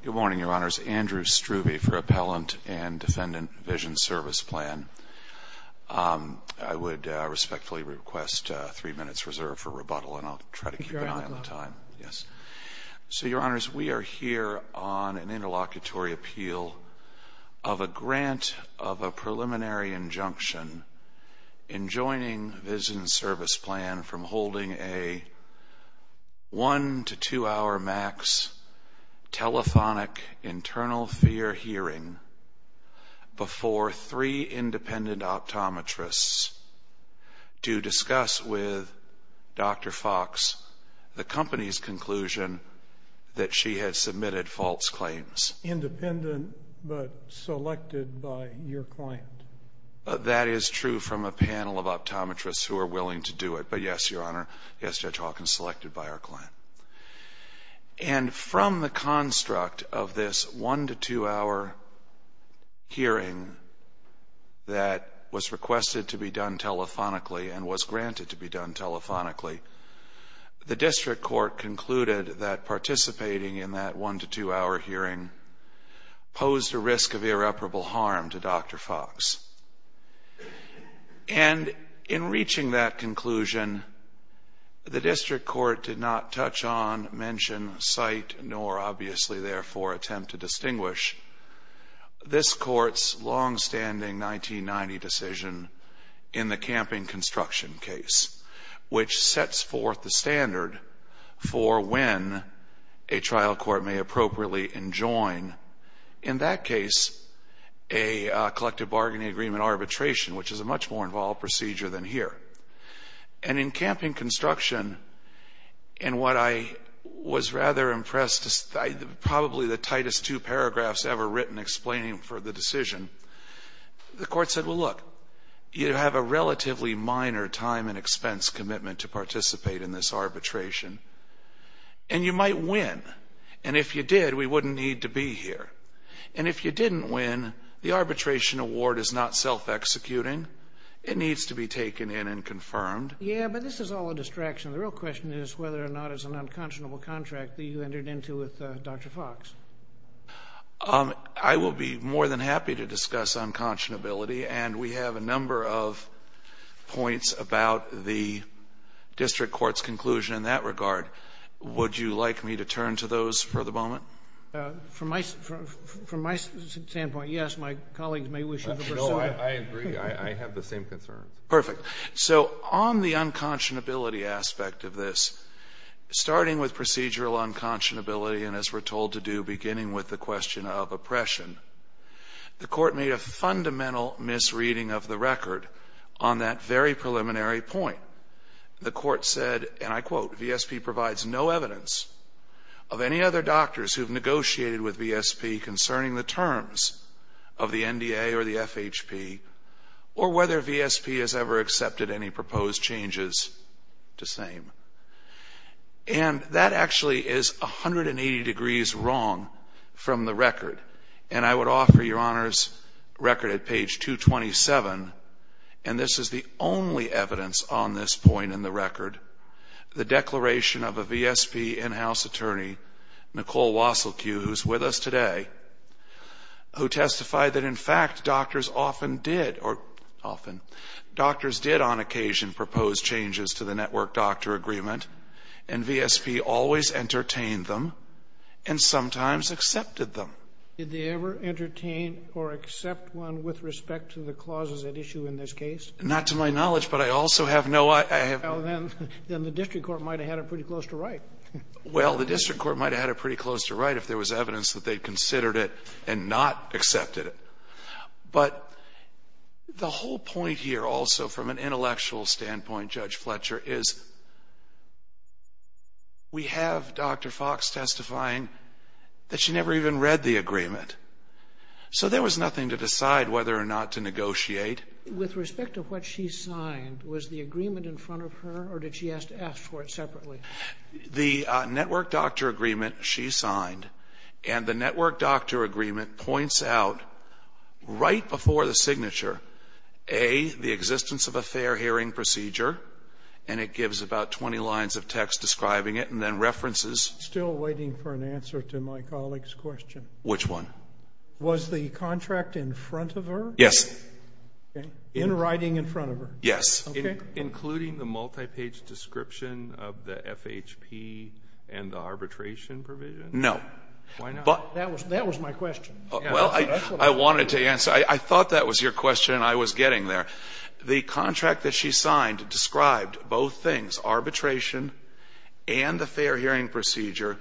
Good morning, Your Honors. Andrew Struve for Appellant and Defendant Vision Service Plan. I would respectfully request three minutes reserved for rebuttal and I'll try to keep an eye on the time. So, Your Honors, we are here on an interlocutory appeal of a grant of a preliminary injunction in a two-hour max telethonic internal fear hearing before three independent optometrists to discuss with Dr. Fox the company's conclusion that she had submitted false claims. Independent but selected by your client. That is true from a panel of optometrists who are willing to do it. But yes, Your Honor, yes, Judge Hawkins, selected by our client. And from the construct of this one-to-two-hour hearing that was requested to be done telephonically and was granted to be done telephonically, the district court concluded that participating in that one-to-two-hour hearing posed a risk of irreparable harm to Dr. Fox. And in reaching that conclusion, the district court did not touch on, mention, cite, nor obviously therefore attempt to distinguish this court's longstanding 1990 decision in the camping construction case, which sets forth the standard for when a trial court may appropriately enjoin, in that case, a collective bargaining agreement arbitration, which is a much more involved procedure than here. And in camping construction, in what I was rather impressed, probably the tightest two paragraphs ever written explaining for the decision, the court said, well, look, you have a relatively minor time and expense commitment to participate in this arbitration, and you might win. And if you did, we wouldn't need to be here. And if you didn't win, the arbitration award is not self-executing. It needs to be taken in and confirmed. Yeah, but this is all a distraction. The real question is whether or not it's an unconscionable contract that you entered into with Dr. Fox. I will be more than happy to discuss unconscionability. And we have a number of points about the district court's conclusion in that regard. Would you like me to turn to those for the moment? From my standpoint, yes. My colleagues may wish to pursue it. No, I agree. I have the same concerns. Perfect. So on the unconscionability aspect of this, starting with procedural unconscionability and as we're told to do, beginning with the question of oppression, the court made a fundamental misreading of the record on that very preliminary point. The court said, and I quote, VSP provides no evidence of any other doctors who have negotiated with VSP concerning the terms of the NDA or the FHP or whether VSP has ever accepted any proposed changes to same. And that actually is 180 degrees wrong from the record. And I would offer Your Honor's record at page 227, and this is the only evidence on this point in the record, the declaration of a VSP in-house attorney, Nicole Wasilcu, who's with us today, who testified that in agreement, and VSP always entertained them and sometimes accepted them. Did they ever entertain or accept one with respect to the clauses at issue in this case? Not to my knowledge, but I also have no idea. Well, then the district court might have had it pretty close to right. Well, the district court might have had it pretty close to right if there was evidence that they considered it and not accepted it. But the whole point here also from an intellectual standpoint, Judge Fletcher, is we have Dr. Fox testifying that she never even read the agreement. So there was nothing to decide whether or not to negotiate. With respect to what she signed, was the agreement in front of her or did she ask to ask for it separately? The network doctor agreement she signed and the network doctor agreement points out right before the signature, A, the existence of a fair hearing procedure, and it gives about 20 lines of text describing it and then references. Still waiting for an answer to my colleague's question. Which one? Was the contract in front of her? Yes. In writing in front of her? Yes. Including the multi-page description of the FHP and the arbitration provision? No. Why not? That was my question. Well, I wanted to answer. I thought that was your question and I was getting there. The contract that she signed described both things, arbitration and the fair hearing procedure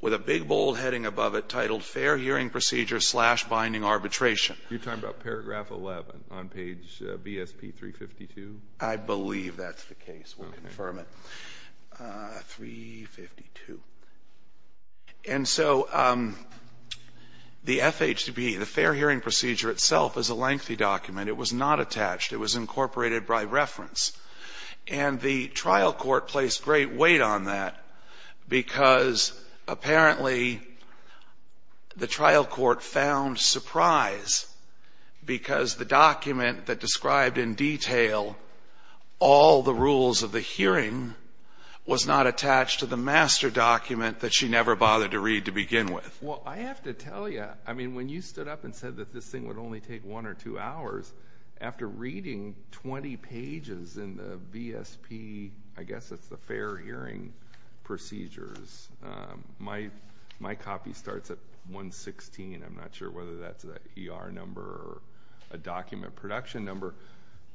with a big bold heading above it titled Fair Hearing Procedure slash Binding Arbitration. You're talking about paragraph 11 on page BSP 352? I believe that's the case. We'll confirm it. 352. And so the FHP, the Fair Hearing Procedure itself is a lengthy document. It was not attached. It was incorporated by reference. And the trial court placed great weight on that because apparently the trial court found surprise because the document that described in detail all the rules of the hearing was not attached to the master document that she never bothered to read to begin with. Well, I have to tell you, I mean, when you stood up and said that this thing would only take one or two hours, after reading 20 pages in the VSP, I guess it's the Fair Hearing Procedures, my copy starts at 116. I'm not sure whether that's an ER number or a document production number.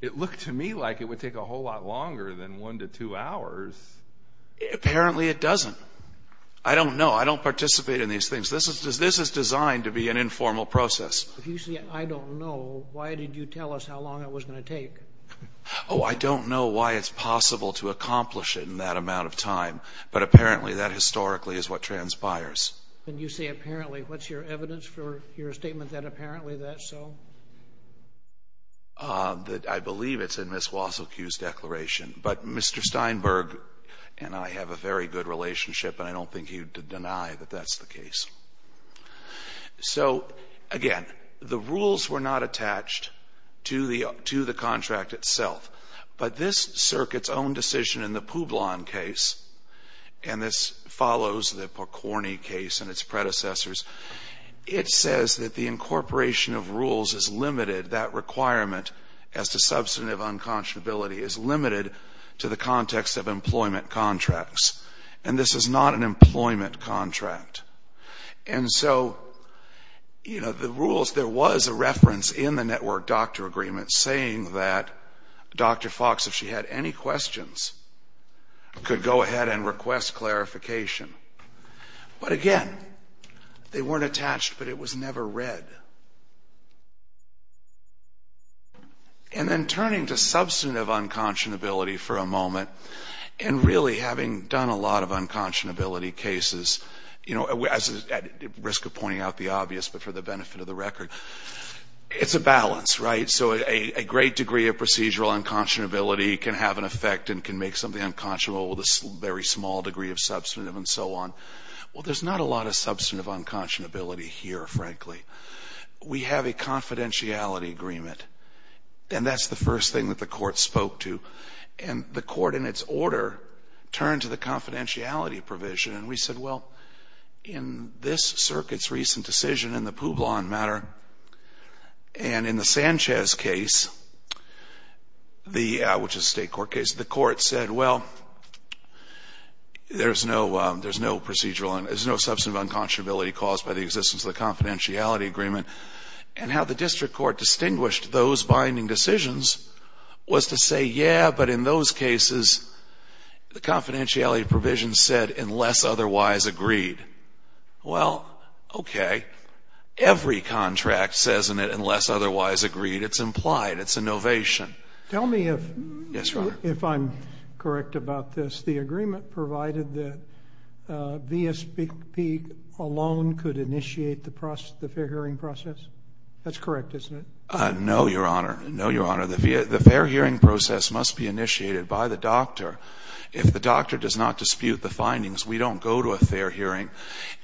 It looked to me like it would take a whole lot longer than one to two hours. Apparently it doesn't. I don't know. I don't participate in these things. This is designed to be an informal process. If you say I don't know, why did you tell us how long it was going to take? Oh, I don't know why it's possible to accomplish it in that amount of time. But apparently that historically is what transpires. And you say apparently. What's your evidence for your statement that apparently that's true? I believe it's in Ms. Wasilkiw's declaration. But Mr. Steinberg and I have a very good relationship and I don't think he would deny that that's the case. So again, the rules were not attached to the contract itself. But this circuit's own decision in the Publon case, and this follows the Porcorny case and its predecessors, it says that the incorporation of rules is limited, that requirement as to substantive unconscionability is limited to the context of employment contracts. And this is not an employment contract. And so, you know, the rules, there was a reference in the network doctor agreement saying that Dr. Fox, if she had any questions, could go ahead and request clarification. But again, they weren't attached, but it was never read. And then turning to substantive unconscionability for a moment, and really having done a lot of unconscionability cases, you know, at risk of pointing out the obvious, but for the benefit of the record, it's a balance, right? So a great degree of procedural unconscionability can have an effect and can make something unconscionable with a very small degree of so on. Well, there's not a lot of substantive unconscionability here, frankly. We have a confidentiality agreement, and that's the first thing that the court spoke to. And the court, in its order, turned to the confidentiality provision, and we said, well, in this circuit's recent decision in the Publon matter, and in the Sanchez case, which is a state court case, the court said, well, there's no procedural, there's no substantive unconscionability caused by the existence of the confidentiality agreement. And how the district court distinguished those binding decisions was to say, yeah, but in those cases, the confidentiality provision said, unless otherwise agreed. Well, okay. Every contract says in it, unless otherwise agreed. It's implied. It's a novation. Tell me if I'm correct about this. The agreement provided that VSPP alone could initiate the fair hearing process? That's correct, isn't it? No, Your Honor. No, Your Honor. The fair hearing process must be initiated by the doctor. If the doctor does not dispute the findings, we don't go to a fair hearing.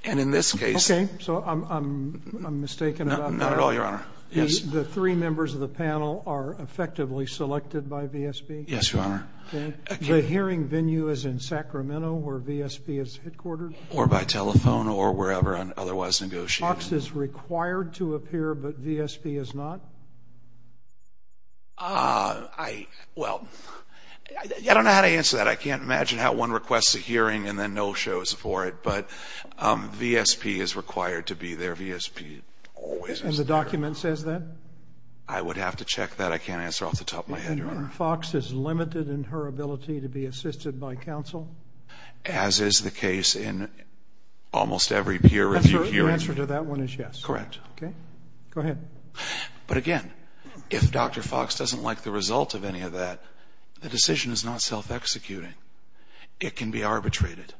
And in this case Okay. So I'm mistaken about that. Not at all, Your Honor. Yes. The three members of the panel are effectively selected by VSP? Yes, Your Honor. Okay. The hearing venue is in Sacramento, where VSP is headquartered? Or by telephone, or wherever otherwise negotiated. FOX is required to appear, but VSP is not? I, well, I don't know how to answer that. I can't imagine how one requests a hearing and then no shows for it. But VSP is required to be there. VSP always is. And the document says that? I would have to check that. I can't answer off the top of my head, Your Honor. FOX is limited in her ability to be assisted by counsel? As is the case in almost every peer-reviewed hearing. The answer to that one is yes? Correct. Okay. Go ahead. But again, if Dr. FOX doesn't like the result of any of that, the decision is not self-executing. It can be arbitrated.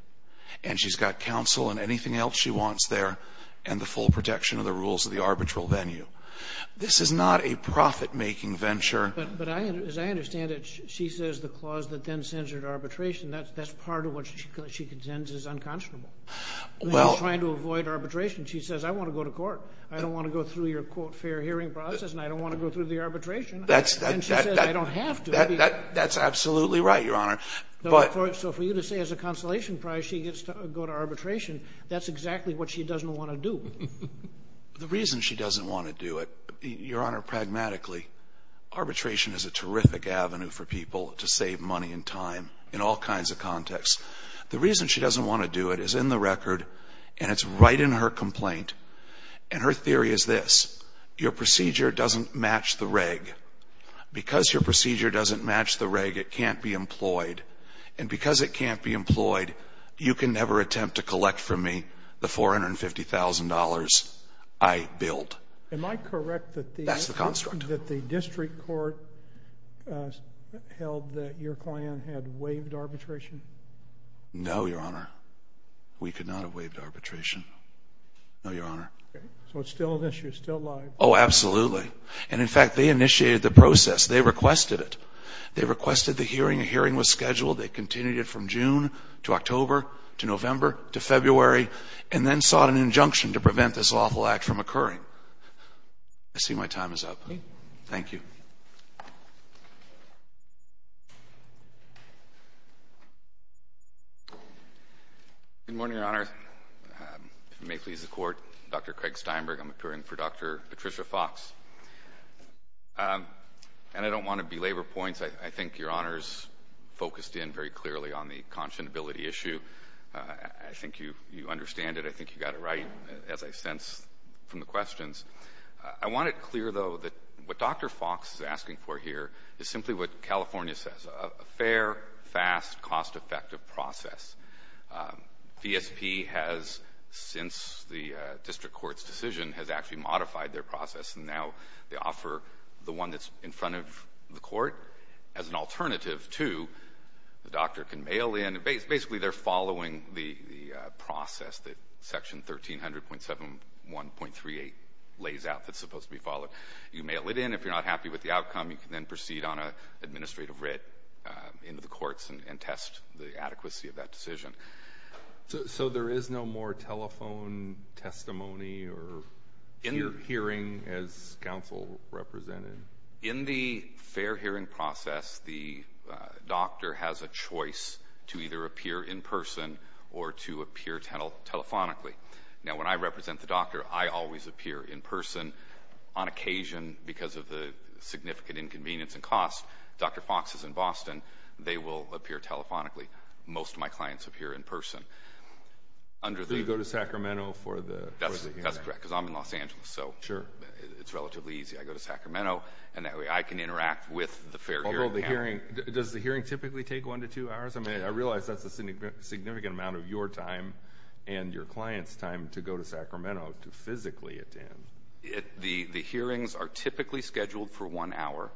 And she's got counsel and anything else she wants there, and the full protection of the rules of the arbitral venue. This is not a profit-making venture. But as I understand it, she says the clause that then sends her to arbitration, that's part of what she contends is unconscionable. Well... When you're trying to avoid arbitration, she says, I want to go to court. I don't want to go through your, quote, fair hearing process, and I don't want to go through the arbitration. That's... And she says, I don't have to. That's absolutely right, Your Honor. But... So for you to say as a consolation prize, she gets to go to arbitration, that's exactly what she doesn't want to do. The reason she doesn't want to do it, Your Honor, pragmatically, arbitration is a terrific avenue for people to save money and time in all kinds of contexts. The reason she doesn't want to do it is in the record, and it's right in her complaint. And her theory is this. Your procedure doesn't match the reg. Because your procedure doesn't match the reg, it can't be employed. And because it can't be employed, you can never attempt to collect from me the $450,000 I billed. Am I correct that the... That's the construct. ...that the district court held that your client had waived arbitration? No, Your Honor. We could not have waived arbitration. No, Your Honor. Okay. So it's still an issue. It's still live. Oh, absolutely. And in fact, they initiated the process. They requested it. They requested the hearing. A hearing was scheduled. They continued it from June to October to November to February, and then sought an injunction to prevent this awful act from occurring. I see my time is up. Thank you. Good morning, Your Honor. If it may please the Court, Dr. Craig Steinberg. I'm appearing for Dr. Patricia Fox. And I don't want to belabor points. I think Your Honor's focused in very clearly on the conscionability issue. I think you understand it. I think you got it right, as I sense from the questions. I want it clear, though, that what Dr. Fox is asking for here is simply what California says, a fair, fast, cost-effective process. VSP has, since the district court's decision, has actually modified their process. And now they offer the one that's in front of the court as an alternative to the doctor can mail in. Basically, they're following the process that Section 1300.71.38 lays out that's supposed to be followed. You mail it in. If you're not happy with the outcome, you can then proceed on an administrative writ into the courts and test the adequacy of that decision. So there is no more telephone testimony or hearing as counsel represented? In the fair hearing process, the doctor has a choice to either appear in person or to appear telephonically. Now, when I represent the doctor, I always appear in person. On occasion, because of the significant inconvenience and cost, Dr. Fox is in Boston. They will appear telephonically. Most of my clients appear in person. So you go to Sacramento for the hearing? That's correct, because I'm in Los Angeles. So it's relatively easy. I go to Sacramento, and that way I can interact with the fair hearing panel. Does the hearing typically take one to two hours? I realize that's a significant amount of your time and your client's time to go to Sacramento to physically attend. The hearings are typically scheduled for one hour.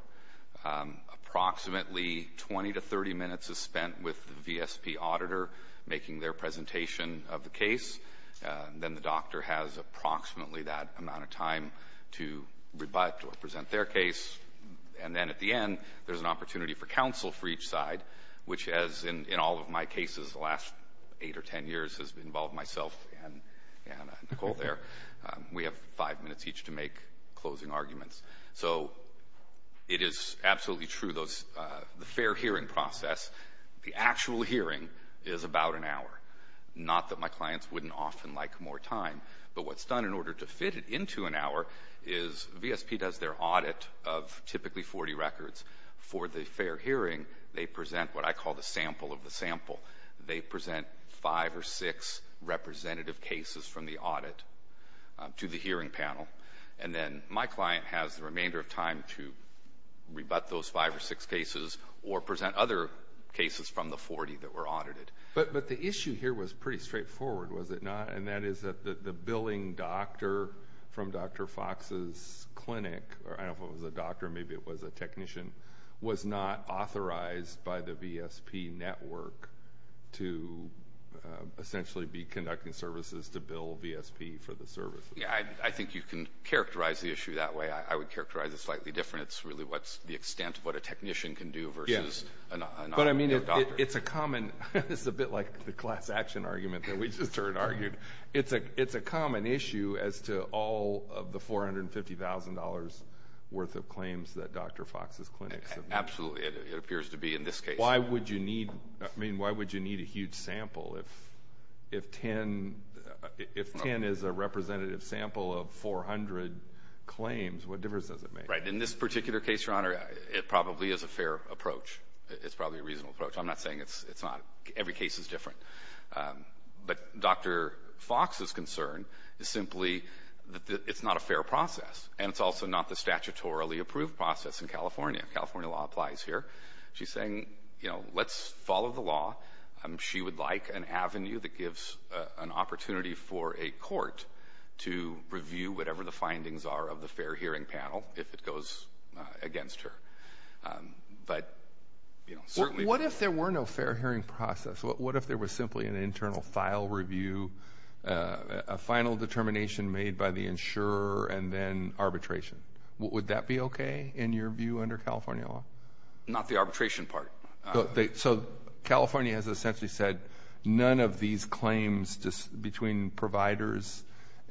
Approximately 20 to 30 minutes is spent with the VSP auditor making their presentation of the case. Then the doctor has approximately that amount of time to rebut or present their case. And then at the end, there's an opportunity for counsel for each side, which, as in all of my cases the last eight or ten years has involved myself and Nicole there, we have five minutes each to make closing arguments. So it is absolutely true, the fair hearing process, the actual hearing is about an hour. Not that my clients wouldn't often like more time, but what's done in order to fit it into an hour is VSP does their audit of typically 40 records. For the fair hearing, they present what I call the sample of the sample. They present five or six representative cases from the audit to the hearing panel, and then my client has the remainder of time to rebut those five or six cases or present other cases from the 40 that were audited. But the issue here was pretty straightforward, was it not? And that is that the billing doctor from Dr. Fox's clinic, or I don't know if it was a doctor, maybe it was a technician, was not authorized by the VSP network to essentially be conducting services to bill VSP for the service. I think you can characterize the issue that way. I would characterize it slightly different. It's really what's the extent of what a technician can do versus a doctor. But I mean, it's a common, it's a bit like the class action argument that we just heard argued. It's a common issue as to all of the $450,000 worth of claims that Dr. Fox's clinic submits. Absolutely. It appears to be in this case. Why would you need, I mean, why would you need a huge sample if 10 is a representative sample of 400 claims, what difference does it make? Right. In this particular case, Your Honor, it probably is a fair approach. It's probably a reasonable approach. I'm not saying it's not. Every case is different. But Dr. Fox's concern is simply that it's not a fair process, and it's also not the statutorily approved process in California. California law applies here. She's saying, you know, let's follow the law. She would like an avenue that gives an opportunity for a court to review whatever the findings are of the fair hearing panel if it goes against her. But, you know, certainly... What if there were no fair hearing process? What if there was simply an internal file review, a final determination made by the insurer, and then arbitration? Would that be okay, in your view, under California law? Not the arbitration part. So California has essentially said none of these claims between providers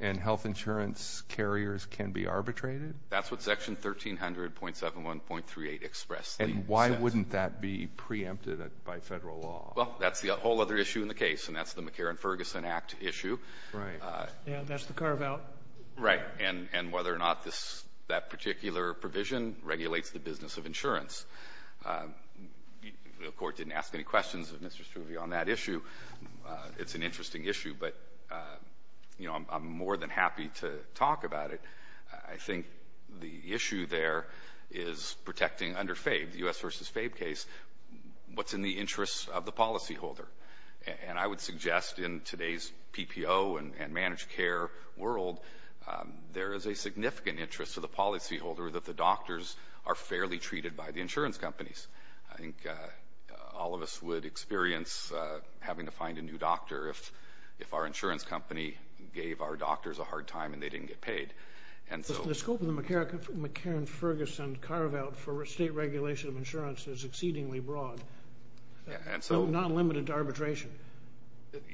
and health insurance carriers can be arbitrated? That's what Section 1300.71.38 expressly says. And why wouldn't that be preempted by federal law? Well, that's the whole other issue in the case, and that's the McCarran-Ferguson Act issue. Right. Yeah, that's the carve out. Right. And whether or not that particular provision regulates the business of insurance. The court didn't ask any questions of Mr. Struve on that issue. It's an interesting issue, but, you know, I'm more than happy to talk about it. I think the issue there is protecting under FABE, the U.S. v. FABE case, what's in the interest of the policyholder. And I would suggest in today's PPO and managed care world, there is a significant interest to the policyholder that the doctors are fairly treated by the insurance companies. I think all of us would experience having to find a new doctor if our insurance company gave our doctors a hard time and they didn't get paid. The scope of the McCarran-Ferguson carve out for state regulation of insurance is exceedingly broad. So not limited to arbitration.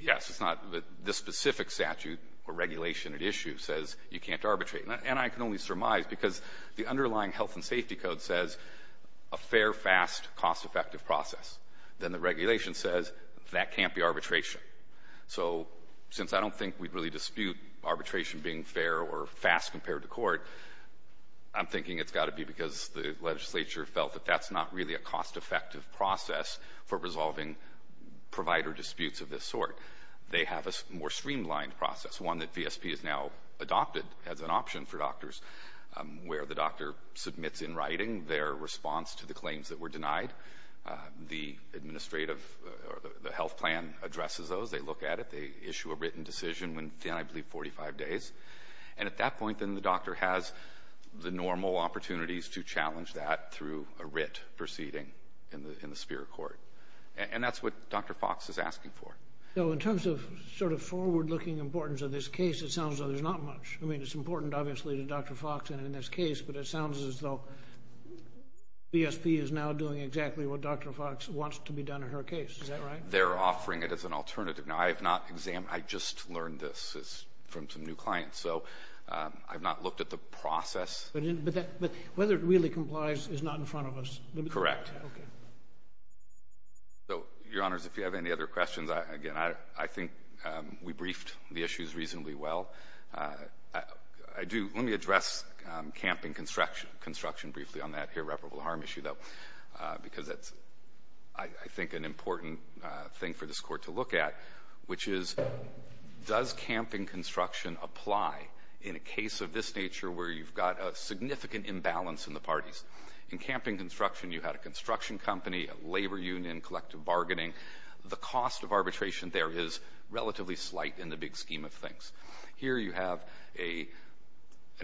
Yes. It's not the specific statute or regulation at issue says you can't arbitrate. And I can only surmise because the underlying health and safety code says a fair, fast, cost-effective process. Then the regulation says that can't be arbitration. So since I don't think we'd really dispute arbitration being fair or fast compared to court, I'm thinking it's got to be because the legislature felt that that's not really a cost-effective process for resolving provider disputes of this sort. They have a more streamlined process. One that VSP has now adopted as an option for doctors where the doctor submits in writing their response to the claims that were denied. The administrative or the health plan addresses those. They look at it. They issue a written decision within, I believe, 45 days. And at that point, then the doctor has the normal opportunities to challenge that through a writ proceeding in the spirit court. And that's what Dr. Fox is asking for. So in terms of sort of forward-looking importance of this case, it sounds like there's not much. I mean, it's important, obviously, to Dr. Fox in this case, but it sounds as though VSP is now doing exactly what Dr. Fox wants to be done in her case. Is that right? They're offering it as an alternative. Now, I have not examined, I just learned this from some new clients. So I've not looked at the process. But whether it really complies is not in front of us. Correct. Okay. So, Your Honors, if you have any other questions, again, I think we briefed the issues reasonably well. I do, let me address camping construction briefly on that irreparable harm issue, though, because that's, I think, an important thing for this Court to look at, which is does camping construction apply in a case of this nature where you've got a significant imbalance in the parties? In camping construction, you had a construction company, a labor union, collective bargaining. The cost of arbitration there is relatively slight in the big scheme of things. Here you have an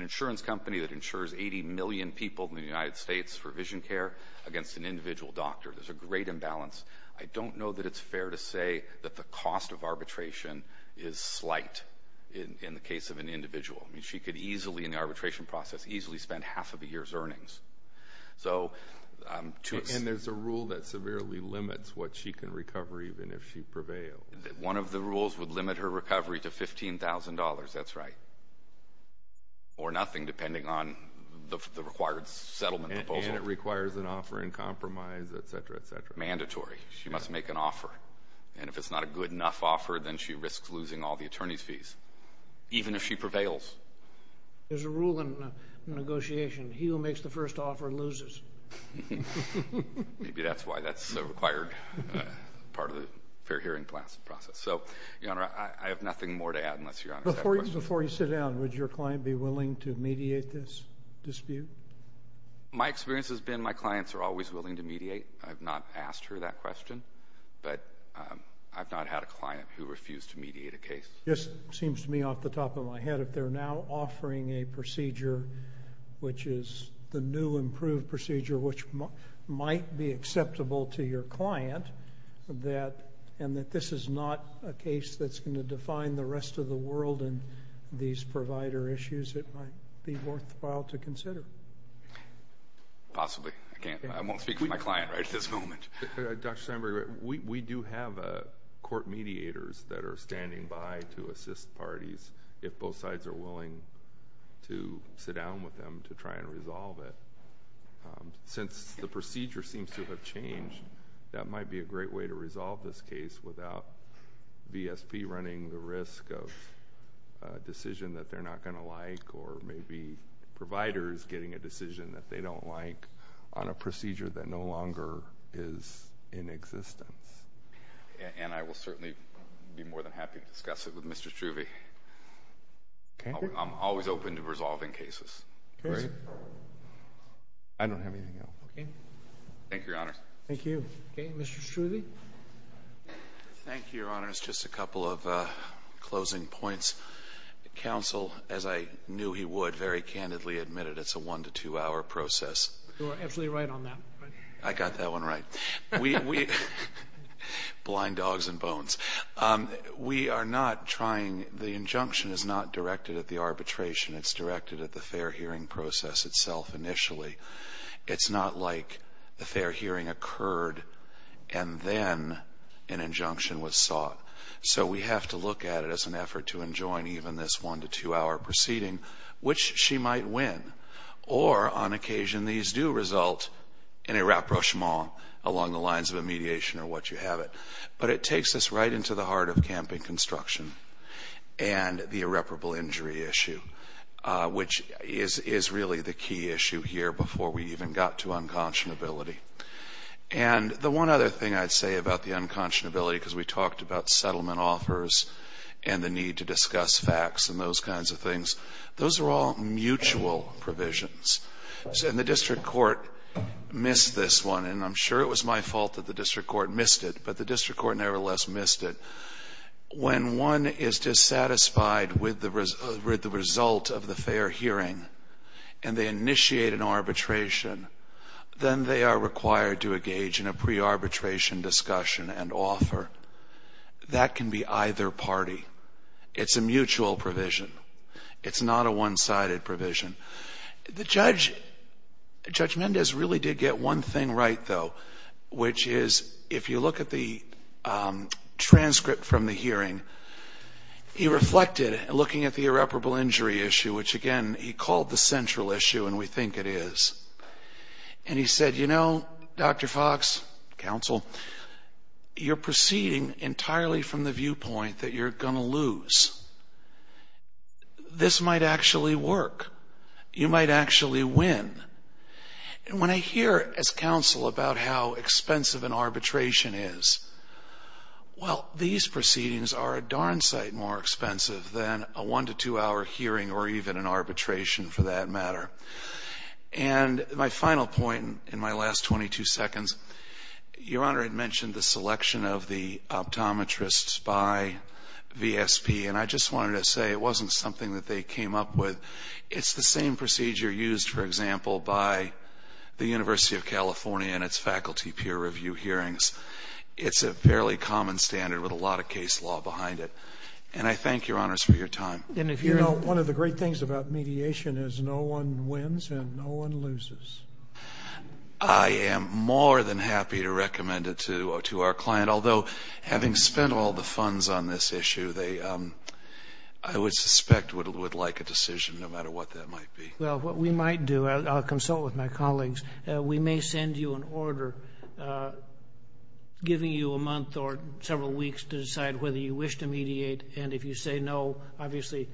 insurance company that insures 80 million people in the United States for vision care against an individual doctor. There's a great imbalance. I don't know that it's of arbitration is slight in the case of an individual. She could easily, in the arbitration process, easily spend half of a year's earnings. And there's a rule that severely limits what she can recover even if she prevails. One of the rules would limit her recovery to $15,000. That's right. Or nothing, depending on the required settlement proposal. And it requires an offer in compromise, et cetera, et cetera. Mandatory. She must make an offer. And if it's not a good enough offer, then she risks losing all the attorney's fees, even if she prevails. There's a rule in negotiation. He who makes the first offer loses. Maybe that's why that's so required, part of the fair hearing process. So, Your Honor, I have nothing more to add unless Your Honor's had a question. Before you sit down, would your client be willing to mediate this dispute? My experience has been my clients are always willing to mediate. I've not asked her that question. But I've not had a client who refused to mediate a case. This seems to me off the top of my head. If they're now offering a procedure which is the new improved procedure, which might be acceptable to your client, and that this is not a case that's going to define the rest of the world in these provider issues, it might be worthwhile to consider. Possibly. I can't... I won't speak for my client right at this moment. Dr. Steinberg, we do have court mediators that are standing by to assist parties if both sides are willing to sit down with them to try and resolve it. Since the procedure seems to have changed, that might be a great way to resolve this case without VSP running the risk of a decision that they're not going to like, or maybe providers getting a decision that they don't like on a procedure that no longer is in existence. And I will certainly be more than happy to discuss it with Mr. Struve. I'm always open to resolving cases. I don't have anything else. Thank you, Your Honor. Thank you. Mr. Struve? Thank you, Your Honor. It's just a couple of closing points. Counsel, as I knew he would, very candidly admitted it's a one-to-two-hour process. You are absolutely right on that. I got that one right. Blind dogs and bones. We are not trying... the injunction is not directed at the arbitration. It's directed at the fair hearing process itself initially. It's not like the fair hearing occurred and then an injunction was sought. So we have to look at it as an effort to enjoin even this one-to-two-hour proceeding, which she might win. Or, on occasion, these do result in a rapprochement along the lines of a mediation or what you have it. But it takes us right into the heart of camping construction and the irreparable injury issue, which is really the key issue here before we even got to unconscionability. And the one other thing I'd say about the unconscionability, because we talked about settlement offers and the need to discuss facts and those kinds of things, those are all mutual provisions. And the district court missed this one. And I'm sure it was my fault that the district court missed it, but the district court nevertheless missed it. When one is dissatisfied with the result of the fair hearing and they initiate an arbitration, then they are required to engage in a pre-arbitration discussion and offer. That can be either party. It's a mutual provision. It's not a one-sided provision. The judge, Judge Mendez, really did get one thing right, though, which is if you look at the transcript from the hearing, he reflected looking at the irreparable injury issue, which again he called the central issue and we think it is. And he said, you know, Dr. Fox, counsel, you're proceeding entirely from the viewpoint that you're going to lose. This might actually work. You might actually win. And when I hear as counsel about how expensive an arbitration is, well, these proceedings are a darn sight more expensive than a one to two hour hearing or even an arbitration for that matter. And my final point in my last 22 seconds, Your Honor had mentioned the selection of the optometrists by VSP and I just wanted to say it wasn't something that they came up with. It's the same procedure used, for example, by the University of California and its faculty peer review hearings. It's a fairly common standard with a lot of case law behind it. And I thank Your Honors for your time. And if you know one of the great things about mediation is no one wins and no one loses. I am more than happy to recommend it to our client, although having spent all the funds on this issue, I would suspect would like a decision no matter what that might be. Well, what we might do, I'll consult with my colleagues, we may send you an order giving you a month or several weeks to decide whether you wish to mediate. And if you say no, obviously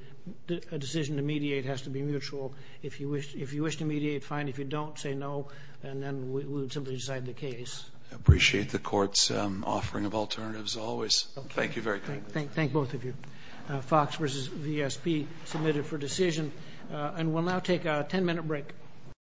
a decision to mediate has to be mutual. If you wish to mediate, fine. If you don't, say no and then we would simply decide the case. I appreciate the court's offering of alternatives always. Thank you very kindly. Thank both of you. Fox vs. VSP submitted for decision. And we'll now take a 10-minute break.